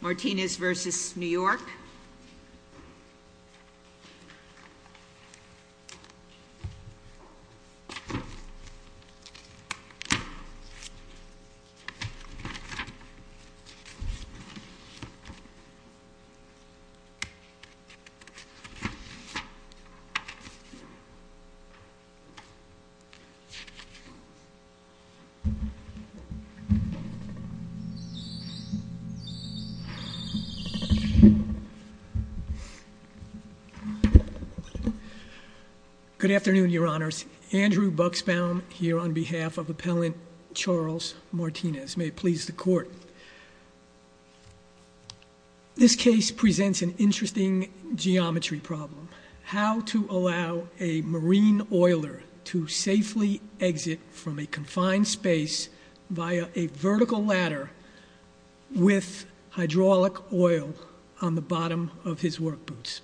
Martinez v. New York Good afternoon, Your Honors. Andrew Buxbaum here on behalf of Appellant Charles Martinez. May it please the Court. This case presents an interesting geometry problem. How to allow a marine oiler to safely exit from a confined space via a vertical ladder with hydraulic oil on the bottom of his work boots.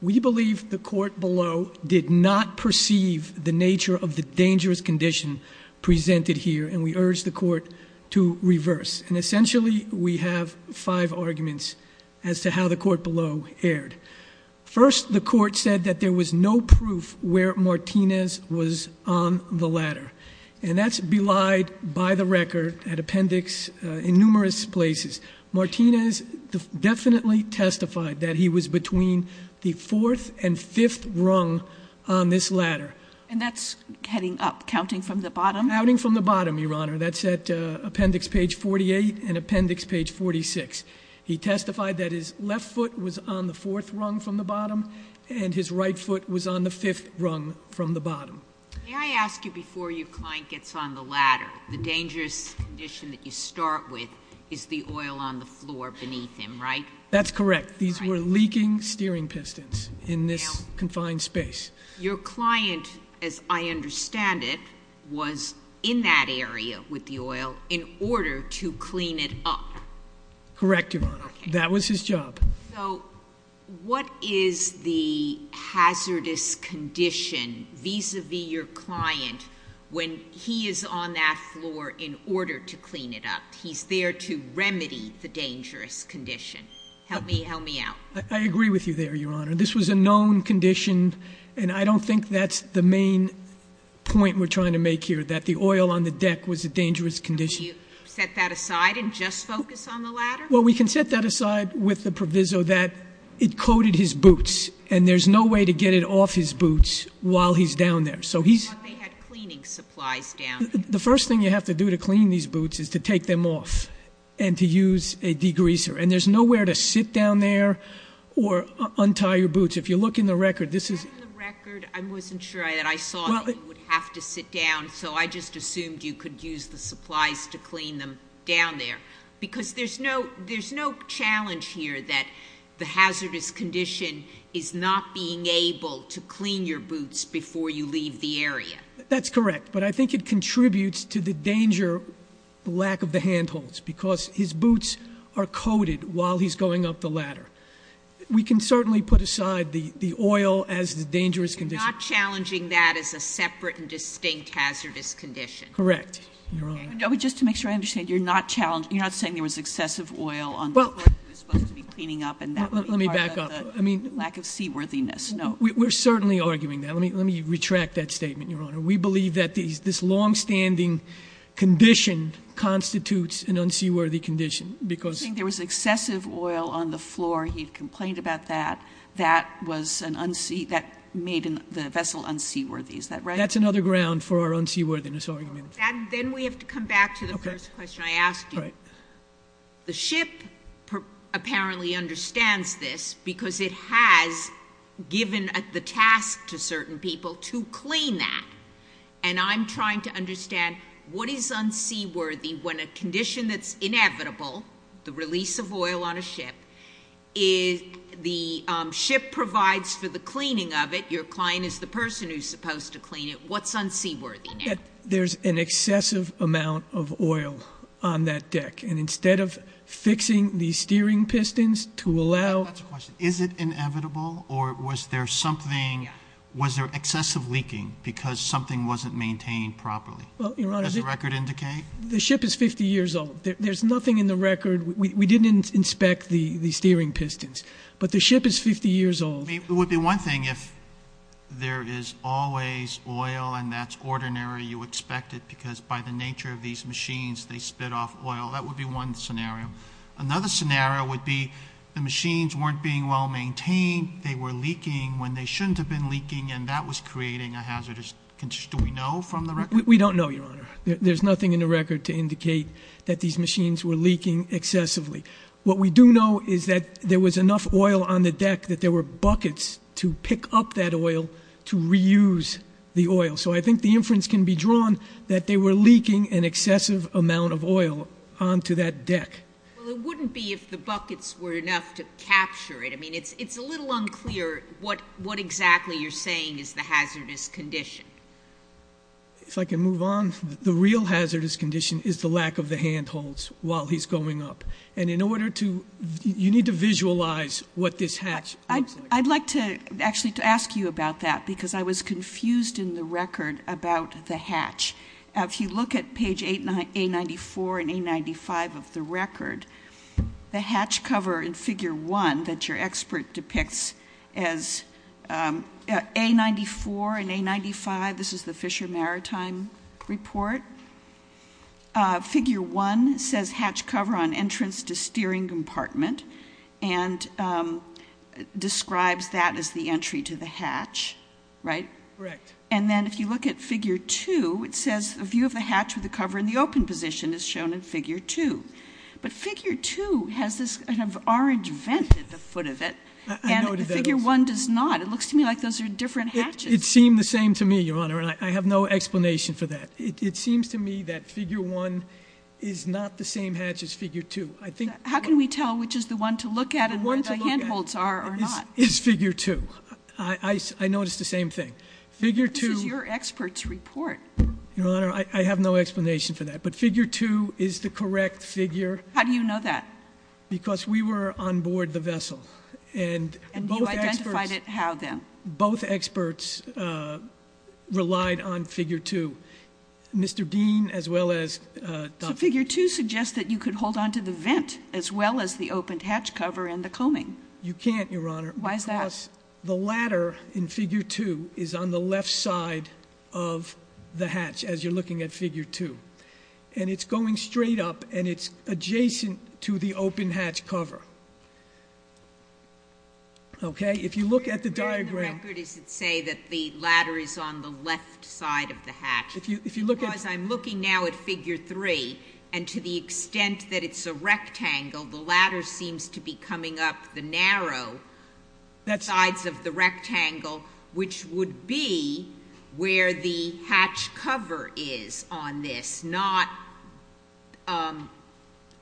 We believe the Court below did not perceive the nature of the dangerous condition presented here and we urge the Court to reverse. And essentially we have five arguments as to how the Court below erred. First, the Court said that there was no proof where Martinez was on the ladder. And that's belied by the record at appendix in numerous places. Martinez definitely testified that he was between the fourth and fifth rung on this ladder. And that's heading up, counting from the bottom? Counting from the bottom, Your Honor. That's at appendix page 48 and appendix page 46. He testified that his left foot was on the fourth rung from the bottom and his right foot was on the fifth rung from the bottom. May I ask you before your client gets on the ladder, the dangerous condition that you start with is the oil on the floor beneath him, right? That's correct. These were leaking steering pistons in this confined space. Your client, as I understand it, was in that area with the oil in order to clean it up. Correct, Your Honor. That was his job. So what is the hazardous condition vis-a-vis your client when he is on that floor in order to clean it up? He's there to remedy the dangerous condition. Help me out. I agree with you there, Your Honor. This was a known condition and I don't think that's the main point we're making. The oil on the deck was a dangerous condition. Can you set that aside and just focus on the ladder? Well, we can set that aside with the proviso that it coated his boots and there's no way to get it off his boots while he's down there. So he's- Well, they had cleaning supplies down there. The first thing you have to do to clean these boots is to take them off and to use a degreaser. And there's nowhere to sit down there or untie your boots. If you look in the record, this is- I just assumed you could use the supplies to clean them down there because there's no challenge here that the hazardous condition is not being able to clean your boots before you leave the area. That's correct, but I think it contributes to the danger, the lack of the handholds, because his boots are coated while he's going up the ladder. We can certainly put aside the oil as the dangerous condition. You're not challenging that as a separate and distinct hazardous condition? Correct, Your Honor. Just to make sure I understand, you're not saying there was excessive oil on the floor that he was supposed to be cleaning up and that would be part of the lack of seaworthiness? No. We're certainly arguing that. Let me retract that statement, Your Honor. We believe that this longstanding condition constitutes an unseaworthy condition because- You're saying there was excessive oil on the floor. He complained about that. That made the vessel unseaworthy. Is that right? That's another ground for our unseaworthiness argument. Then we have to come back to the first question I asked you. The ship apparently understands this because it has given the task to certain people to clean that. I'm trying to understand what is unseaworthy when a condition that's inevitable, the release of oil on a ship, the ship provides for the cleaning of it, your client is the person who's supposed to clean it. What's unseaworthy? There's an excessive amount of oil on that deck. Instead of fixing the steering pistons to allow- That's a question. Is it inevitable or was there something, was there excessive leaking because something wasn't maintained properly? Does the record indicate? The ship is 50 years old. There's nothing in the record. We didn't inspect the steering pistons, but the ship is 50 years old. It would be one thing if there is always oil and that's ordinary, you expect it because by the nature of these machines, they spit off oil. That would be one scenario. Another scenario would be the machines weren't being well maintained. They were leaking when they shouldn't have been leaking and that was creating a hazardous condition. Do we know from the record? We don't know, Your Honor. There's nothing in the record to indicate that these machines were leaking excessively. What we do know is that there was enough oil on the deck that there were buckets to pick up that oil to reuse the oil. I think the inference can be drawn that they were leaking an excessive amount of oil onto that deck. Well, it wouldn't be if the buckets were enough to capture it. It's a little unclear what exactly you're saying is the hazardous condition. If I can move on, the real hazardous condition is the lack of the handholds while he's going up. You need to visualize what this hatch looks like. I'd like to actually ask you about that because I was confused in the record about the hatch. If you look at page A94 and A95 of the record, the hatch cover in figure one that your expert depicts as A94 and A95, this is the Fisher Maritime report, figure one says hatch cover on entrance to steering compartment and describes that as the entry to the hatch, right? Correct. And then if you look at figure two, it says a view of the hatch with the cover in the open position is shown in figure two. But figure two has this orange vent at the foot of it and figure one does not. It looks to me like those are different hatches. It seemed the same to me, Your Honor, and I have no explanation for that. It seems to me that figure one is not the same hatch as figure two. How can we tell which is the one to look at and where the handholds are or not? It's figure two. I noticed the same thing. This is your expert's report. Your Honor, I have no explanation for that, but figure two is the correct figure. How do you know that? Because we were on board the vessel and both experts relied on figure two. Mr. Dean as well as... Figure two suggests that you could hold on to the vent as well as the open hatch cover and the combing. You can't, Your Honor. Why is that? Because the ladder in figure two is on the left side of the hatch as you're looking at figure two. And it's going straight up and it's adjacent to the open hatch cover. Okay? If you look at the diagram... Where in the record does it say that the ladder is on the left side of the hatch? Because I'm looking now at figure three and to the extent that it's a rectangle, the ladder seems to be coming up the narrow sides of the rectangle, which would be where the hatch cover is on this, not where the hatch cover is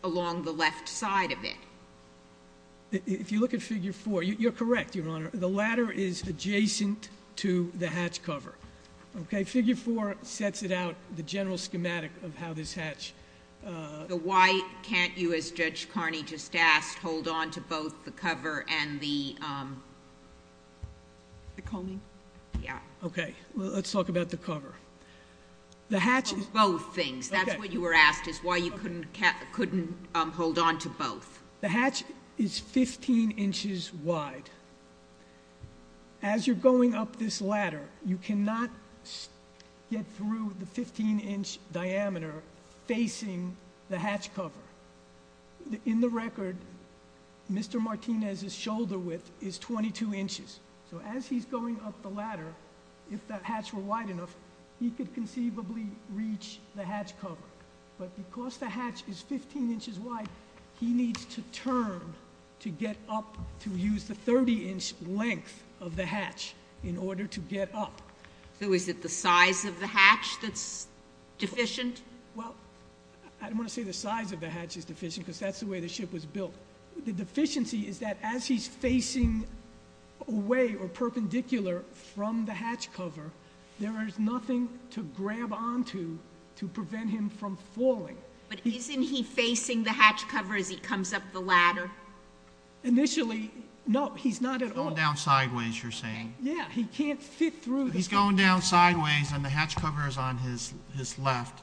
along the left side of it. If you look at figure four, you're correct, Your Honor. The ladder is adjacent to the hatch cover. Okay? Figure four sets it out, the general schematic of how this hatch... Why can't you, as Judge Carney just asked, hold on to both the cover and the... The combing? Yeah. Okay. Let's talk about the cover. The hatch... Both things. That's what you were asked, is why you couldn't hold on to both. The hatch is 15 inches wide. As you're going up this ladder, you cannot get through the 15 inch diameter facing the hatch cover. In the record, Mr. Martinez's shoulder width is 22 inches. So as he's going up the ladder, if the hatch were wide enough, he could conceivably reach the hatch cover. But because the hatch is 15 inches wide, he needs to turn to get up to use the 30 inch length of the hatch in order to get up. So is it the size of the hatch that's deficient? Well, I don't want to say the size of the hatch is deficient, because that's the way the ship was built. The deficiency is that as he's facing away or perpendicular from the hatch cover, there is nothing to grab onto to prevent him from falling. But isn't he facing the hatch cover as he comes up the ladder? Initially, no. He's not at all. He's going down sideways, you're saying. Yeah. He can't fit through the... He's going down sideways and the hatch cover is on his left.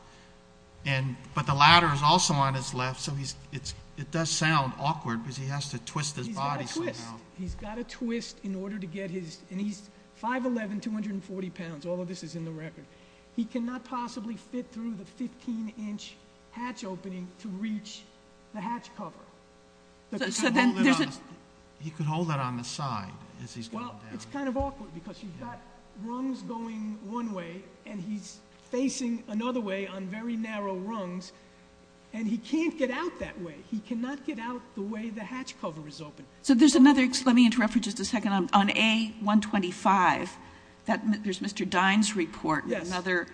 But the ladder is also on his left, so it does sound awkward, because he has to twist his body somehow. He's got to twist. He's 5'11", 240 pounds, all of this is in the record. He cannot possibly fit through the 15 inch hatch opening to reach the hatch cover. He could hold it on the side as he's going down. Well, it's kind of awkward, because he's got rungs going one way and he's facing another way on very narrow rungs, and he can't get out that way. He cannot get out the way the hatch cover is open. So there's another... Let me interrupt for just a second. On A125, there's Mr. Dine's report and another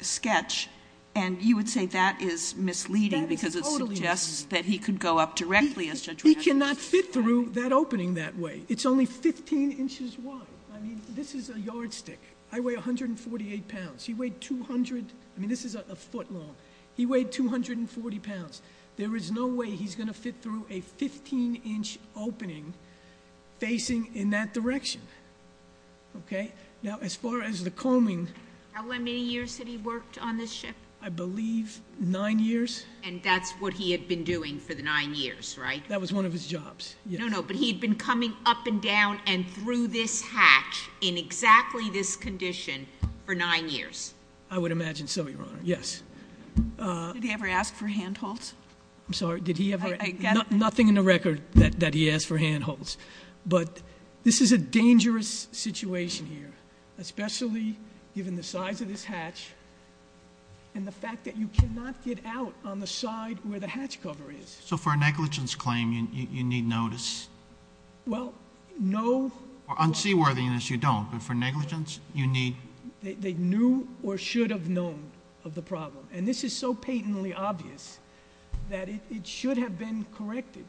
sketch, and you would say that is misleading, because it suggests that he could go up directly as Judge Rafferty... He cannot fit through that opening that way. It's only 15 inches wide. I mean, this is a yardstick. I weigh 148 pounds. He weighed 200... I mean, this is a foot long. He weighed 240 pounds. There is no way he's going to fit through a 15 inch opening facing in that direction. Okay? Now, as far as the combing... How many years had he worked on this ship? I believe nine years. And that's what he had been doing for the nine years, right? That was one of his jobs, yes. No, no, but he had been coming up and down and through this hatch in exactly this condition for nine years. I would imagine so, Your Honor. Yes. Did he ever ask for handholds? I'm sorry, did he ever... I get it. Nothing in the record that he asked for handholds, but this is a dangerous situation here, especially given the size of this hatch and the fact that you cannot get out on the side where the hatch cover is. So for a negligence claim, you need notice? Well, no... On seaworthiness, you don't, but for negligence, you need... They knew or should have known of the problem, and this is so patently obvious that it should have been corrected.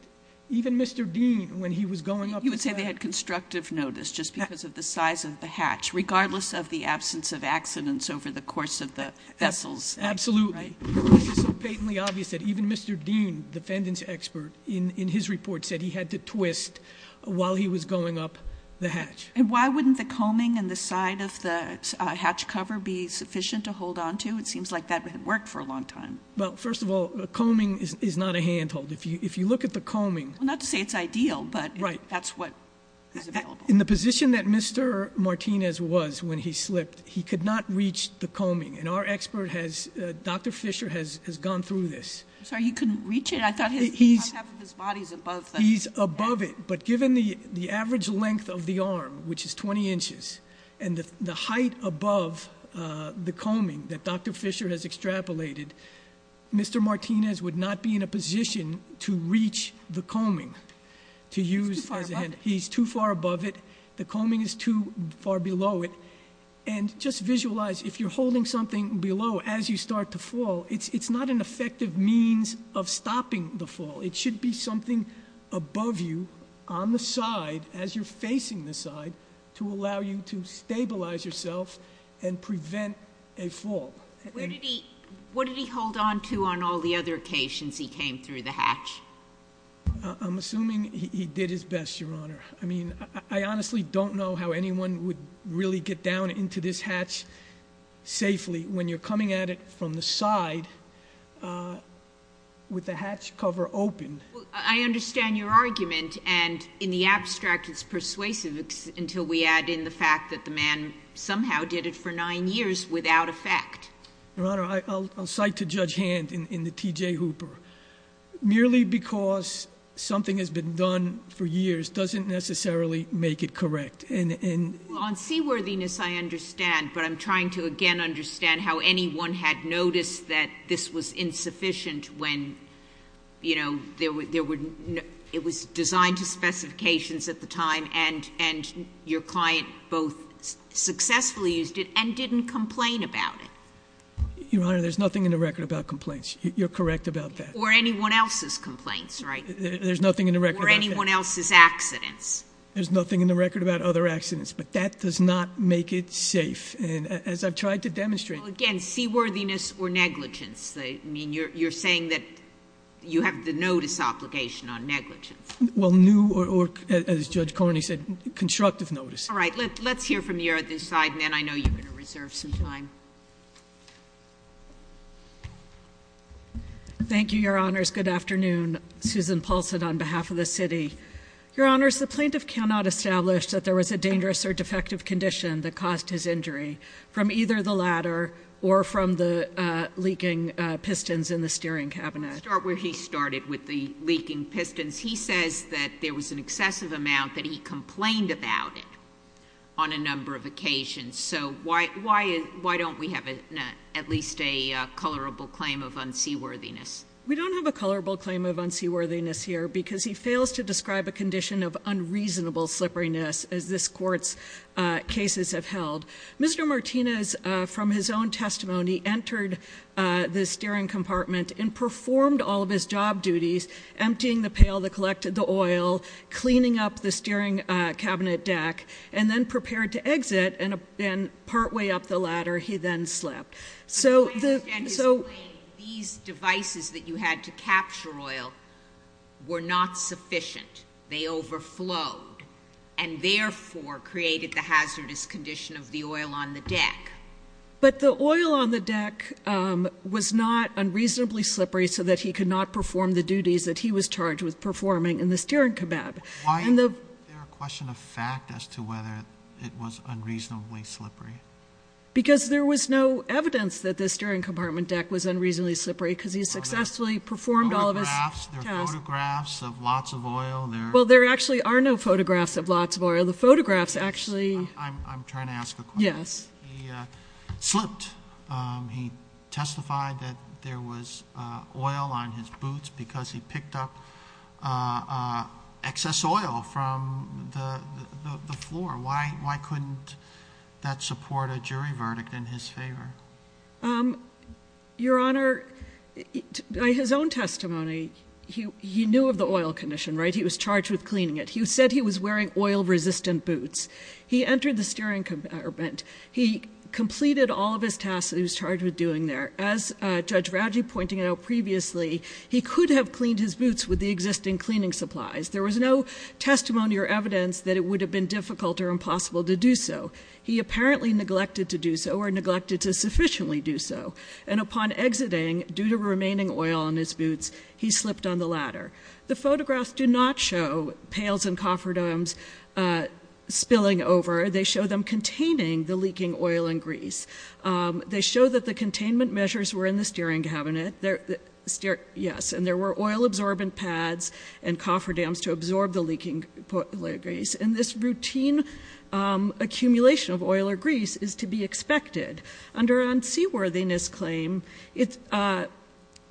Even Mr. Dean, when he was going up the side... You would say they had constructive notice just because of the size of the hatch, regardless of the absence of accidents over the course of the vessels, right? Absolutely. This is so patently obvious that even Mr. Dean, the defendant's expert, in his report said he had to twist while he was going up the hatch. Why wouldn't the combing and the side of the hatch cover be sufficient to hold on to? It seems like that had worked for a long time. Well, first of all, combing is not a handhold. If you look at the combing... Well, not to say it's ideal, but that's what is available. In the position that Mr. Martinez was when he slipped, he could not reach the combing, and our expert, Dr. Fisher, has gone through this. I'm sorry, he couldn't reach it? I thought half of his body's above the... Which is 20 inches. And the height above the combing that Dr. Fisher has extrapolated, Mr. Martinez would not be in a position to reach the combing. To use... He's too far above it. He's too far above it. The combing is too far below it. And just visualize, if you're holding something below as you start to fall, it's not an effective means of stopping the fall. It should be something above you, on the side, as you're facing the side, to allow you to stabilize yourself and prevent a fall. What did he hold onto on all the other occasions he came through the hatch? I'm assuming he did his best, Your Honor. I mean, I honestly don't know how anyone would really get down into this hatch safely when you're coming at it from the side with the hatch cover open. I understand your argument, and in the abstract it's persuasive until we add in the fact that the man somehow did it for nine years without effect. Your Honor, I'll cite to Judge Hand in the T.J. Hooper, merely because something has been done for years doesn't necessarily make it correct. On seaworthiness I understand, but I'm trying to again understand how anyone had noticed that this was insufficient when it was designed to specifications at the time and your client both successfully used it and didn't complain about it. Your Honor, there's nothing in the record about complaints. You're correct about that. Or anyone else's complaints, right? There's nothing in the record about that. Or anyone else's accidents. There's nothing in the record about other accidents, but that does not make it safe. And as I've tried to demonstrate- Well again, seaworthiness or negligence. I mean, you're saying that you have the notice obligation on negligence. Well new or, as Judge Carney said, constructive notice. All right, let's hear from the other side, and then I know you're going to reserve some time. Thank you, Your Honors. Good afternoon. Susan Paulson on behalf of the city. Your Honors, the plaintiff cannot establish that there was a dangerous or defective condition that caused his injury from either the ladder or from the leaking pistons in the steering cabinet. Let's start where he started with the leaking pistons. He says that there was an excessive amount that he complained about it on a number of occasions. So why don't we have at least a colorable claim of unseaworthiness? We don't have a colorable claim of unseaworthiness here, because he fails to describe a condition of unreasonable slipperiness, as this court's cases have held. Mr. Martinez, from his own testimony, entered the steering compartment and performed all of his job duties, emptying the pail that collected the oil, cleaning up the steering cabinet deck, and then prepared to exit and partway up the ladder he then slipped. So- The plaintiff then explained these devices that you had to capture oil were not sufficient. They overflowed and therefore created the hazardous condition of the oil on the deck. But the oil on the deck was not unreasonably slippery so that he could not perform the duties that he was charged with performing in the steering cabab. Why is there a question of fact as to whether it was unreasonably slippery? Because there was no evidence that this steering compartment deck was unreasonably slippery because he successfully performed all of his- Photographs, there are photographs of lots of oil, there- Well, there actually are no photographs of lots of oil. The photographs actually- I'm trying to ask a question. Yes. He slipped, he testified that there was oil on his boots because he picked up excess oil from the floor. Why couldn't that support a jury verdict in his favor? Your Honor, by his own testimony, he knew of the oil condition, right? He was charged with cleaning it. He said he was wearing oil resistant boots. He entered the steering compartment. He completed all of his tasks that he was charged with doing there. As Judge Raggi pointed out previously, he could have cleaned his boots with the existing cleaning supplies. There was no testimony or evidence that it would have been difficult or impossible to do so. He apparently neglected to do so or neglected to sufficiently do so. And upon exiting, due to remaining oil on his boots, he slipped on the ladder. The photographs do not show pails and cofferdams spilling over. They show them containing the leaking oil and grease. They show that the containment measures were in the steering cabinet. Yes, and there were oil absorbent pads and cofferdams to absorb the leaking grease. And this routine accumulation of oil or grease is to be expected. Under our unseaworthiness claim, it's a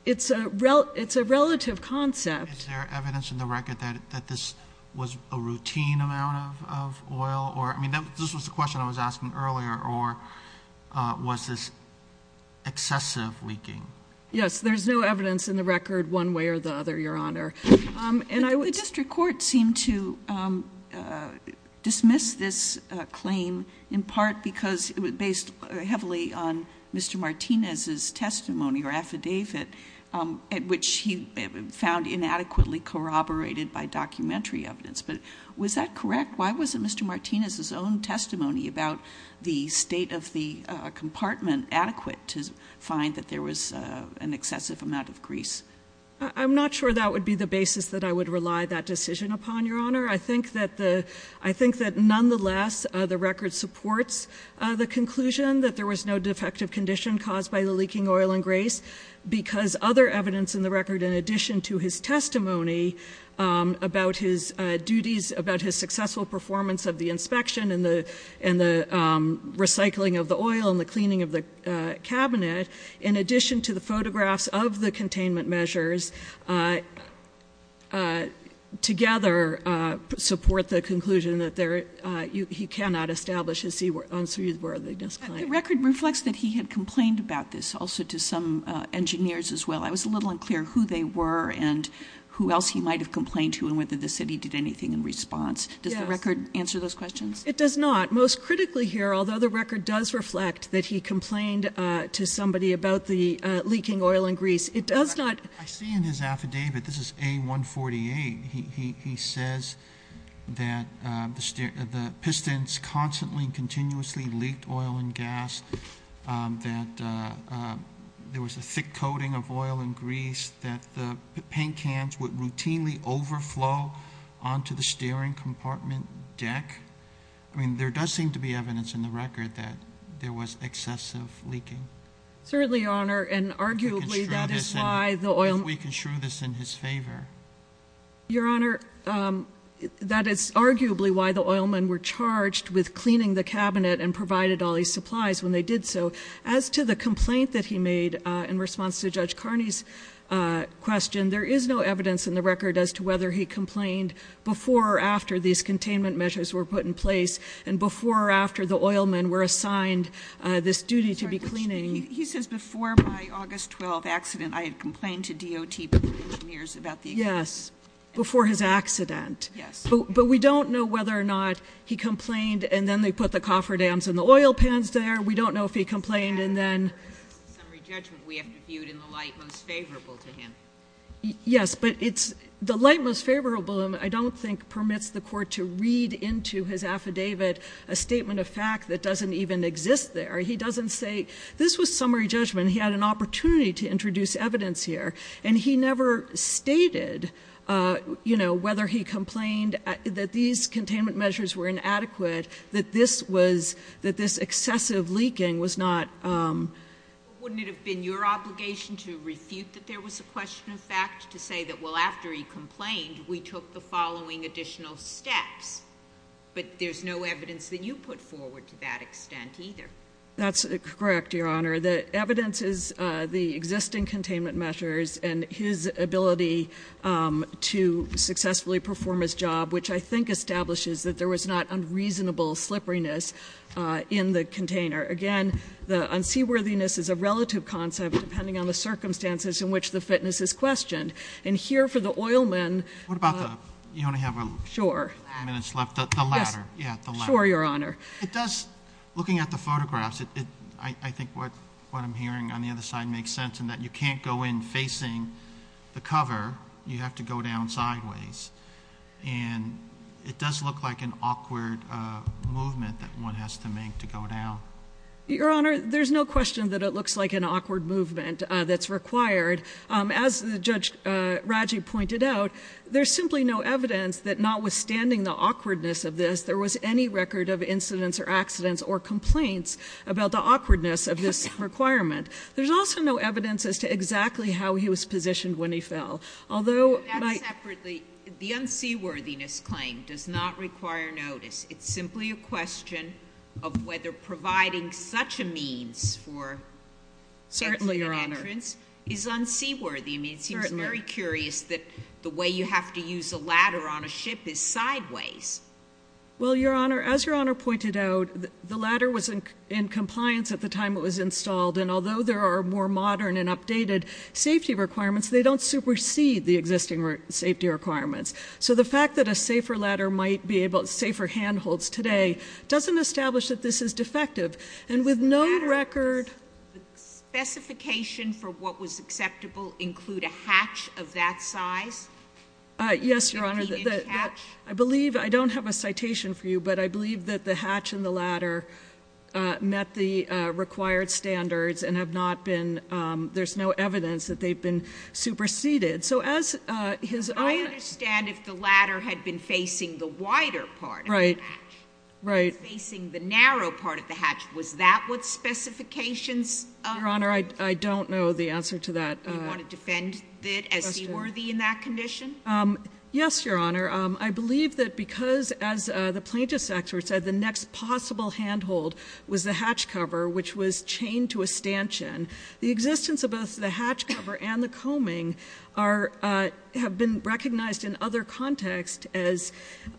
relative concept. Is there evidence in the record that this was a routine amount of oil? I mean, this was the question I was asking earlier, or was this excessive leaking? Yes, there's no evidence in the record one way or the other, Your Honor. And I would- The district court seemed to dismiss this claim in part because it was based heavily on Mr. Martinez's testimony or affidavit, which he found inadequately corroborated by documentary evidence. But was that correct? Why wasn't Mr. Martinez's own testimony about the state of the compartment adequate to find that there was an excessive amount of grease? I'm not sure that would be the basis that I would rely that decision upon, Your Honor. I think that nonetheless, the record supports the conclusion that there was no defective condition caused by the leaking oil and grease because other evidence in the record in addition to his testimony about his duties, about his successful performance of the inspection and the recycling of the oil and the cleaning of the cabinet. In addition to the photographs of the containment measures, together support the conclusion that he cannot establish his unseaworthiness claim. The record reflects that he had complained about this also to some engineers as well. I was a little unclear who they were and who else he might have complained to and whether the city did anything in response. Does the record answer those questions? It does not. Most critically here, although the record does reflect that he complained to somebody about the leaking oil and grease, it does not- I see in his affidavit, this is A148, he says that the pistons constantly and continuously leaked oil and grease that the paint cans would routinely overflow onto the steering compartment deck. I mean, there does seem to be evidence in the record that there was excessive leaking. Certainly, Your Honor, and arguably that is why the oil- If we can shrew this in his favor. Your Honor, that is arguably why the oilmen were charged with cleaning the cabinet and provided all these supplies when they did so. As to the complaint that he made in response to Judge Carney's question, there is no evidence in the record as to whether he complained before or after these containment measures were put in place. And before or after the oilmen were assigned this duty to be cleaning. He says before my August 12th accident, I had complained to DOT engineers about the- Yes, before his accident. Yes. But we don't know whether or not he complained and then they put the coffer dams and the oil pans there. We don't know if he complained and then- Summary judgment, we have to view it in the light most favorable to him. Yes, but it's the light most favorable, I don't think, permits the court to read into his affidavit a statement of fact that doesn't even exist there. He doesn't say, this was summary judgment, he had an opportunity to introduce evidence here. And he never stated whether he complained that these containment measures were inadequate. That this excessive leaking was not- Wouldn't it have been your obligation to refute that there was a question of fact? To say that, well, after he complained, we took the following additional steps. But there's no evidence that you put forward to that extent either. That's correct, Your Honor. The evidence is the existing containment measures and his ability to successfully perform his job, which I think establishes that there was not unreasonable slipperiness in the container. Again, the unseaworthiness is a relative concept depending on the circumstances in which the fitness is questioned. And here for the oilman- What about the, you only have a- Sure. Minutes left, the ladder. Yeah, the ladder. Sure, Your Honor. It does, looking at the photographs, I think what I'm hearing on the other side makes sense in that you can't go in facing the cover. You have to go down sideways. And it does look like an awkward movement that one has to make to go down. Your Honor, there's no question that it looks like an awkward movement that's required. As Judge Raji pointed out, there's simply no evidence that notwithstanding the awkwardness of this, there was any record of incidents or accidents or complaints about the awkwardness of this requirement. There's also no evidence as to exactly how he was positioned when he fell. Although- Put that separately, the unseaworthiness claim does not require notice. It's simply a question of whether providing such a means for- Certainly, Your Honor. Is unseaworthy. I mean, it seems very curious that the way you have to use a ladder on a ship is sideways. Well, Your Honor, as Your Honor pointed out, the ladder was in compliance at the time it was installed. And although there are more modern and updated safety requirements, they don't supersede the existing safety requirements. So the fact that a safer ladder might be able, safer handholds today, doesn't establish that this is defective. And with no record- Does the ladder specification for what was acceptable include a hatch of that size? Yes, Your Honor. 50 inch hatch? I believe, I don't have a citation for you, but I believe that the hatch and the ladder met the required standards and have not been, there's no evidence that they've been superseded. So as his- I understand if the ladder had been facing the wider part of the hatch. Right. Facing the narrow part of the hatch, was that what specifications- Your Honor, I don't know the answer to that. You want to defend it as seaworthy in that condition? Yes, Your Honor, I believe that because, as the plaintiff's expert said, the next possible handhold was the hatch cover, which was chained to a stanchion. The existence of both the hatch cover and the combing have been recognized in other context as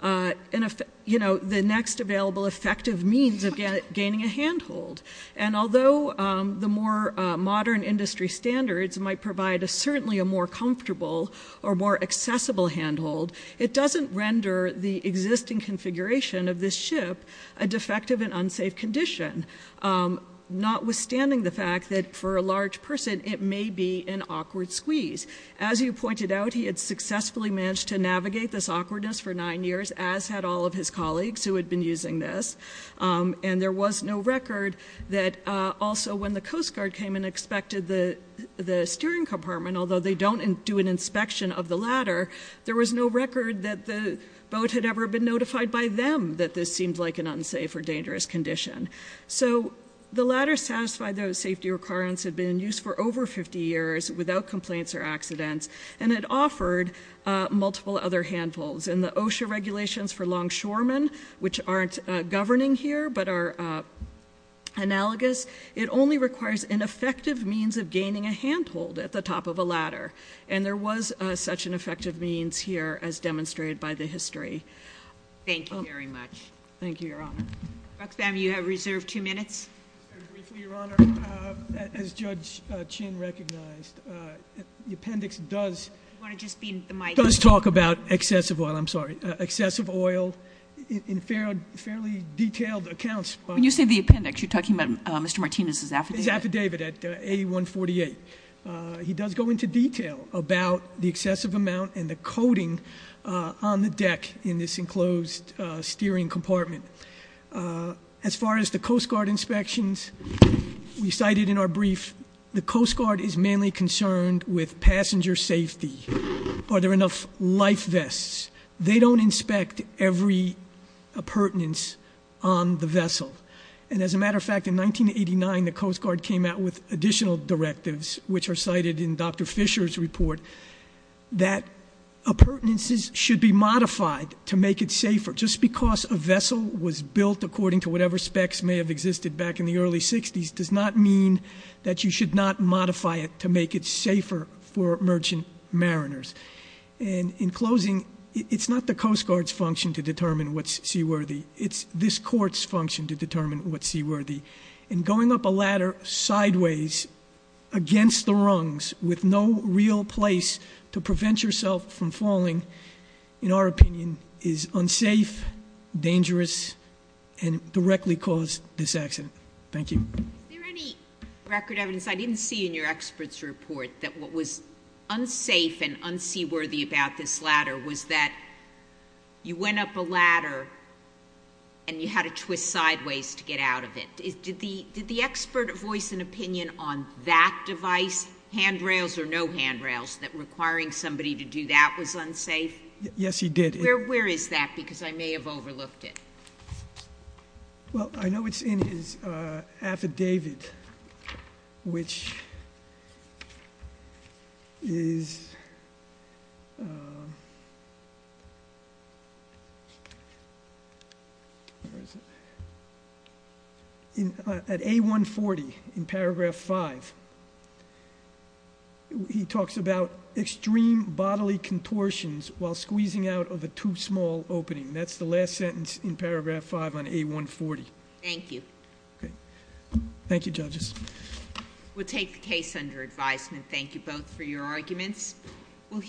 the next available effective means of gaining a handhold. And although the more modern industry standards might provide certainly a more comfortable or more accessible handhold, it doesn't render the existing configuration of this ship a defective and unsafe condition. Notwithstanding the fact that for a large person, it may be an awkward squeeze. As you pointed out, he had successfully managed to navigate this awkwardness for nine years, as had all of his colleagues who had been using this. And there was no record that also when the Coast Guard came and expected the steering compartment, although they don't do an inspection of the ladder, there was no record that the boat had ever been notified by them that this seemed like an unsafe or dangerous condition. So the ladder satisfied those safety requirements had been in use for over 50 years without complaints or accidents. And it offered multiple other handholds. In the OSHA regulations for longshoremen, which aren't governing here but are analogous, it only requires an effective means of gaining a handhold at the top of a ladder. And there was such an effective means here as demonstrated by the history. Thank you very much. Thank you, Your Honor. Dr. Spam, you have reserved two minutes. Briefly, Your Honor, as Judge Chin recognized, the appendix does- You want to just be in the mic? Does talk about excessive oil, I'm sorry, excessive oil in fairly detailed accounts. When you say the appendix, you're talking about Mr. Martinez's affidavit? His affidavit at A148. He does go into detail about the excessive amount and the coating on the deck in this enclosed steering compartment. As far as the Coast Guard inspections, we cited in our brief, the Coast Guard is mainly concerned with passenger safety. Are there enough life vests? They don't inspect every appurtenance on the vessel. And as a matter of fact, in 1989, the Coast Guard came out with additional directives, which are cited in Dr. Fisher's report, that appurtenances should be modified to make it safer. Just because a vessel was built according to whatever specs may have existed back in the early 60s, does not mean that you should not modify it to make it safer for merchant mariners. And in closing, it's not the Coast Guard's function to determine what's seaworthy. It's this court's function to determine what's seaworthy. And going up a ladder sideways against the rungs, with no real place to prevent yourself from falling, in our opinion, is unsafe, dangerous, and directly cause this accident. Thank you. Is there any record evidence, I didn't see in your expert's report, that what was unsafe and unseaworthy about this ladder was that you went up a ladder, and you had to twist sideways to get out of it. Did the expert voice an opinion on that device, handrails or no handrails, that requiring somebody to do that was unsafe? Yes, he did. Where is that, because I may have overlooked it. Well, I know it's in his affidavit, which is. Where is it? At A140, in paragraph five, he talks about extreme bodily contortions while squeezing out of a too small opening. That's the last sentence in paragraph five on A140. Thank you. Okay, thank you judges. We'll take the case under advisement. Thank you both for your arguments. We'll hear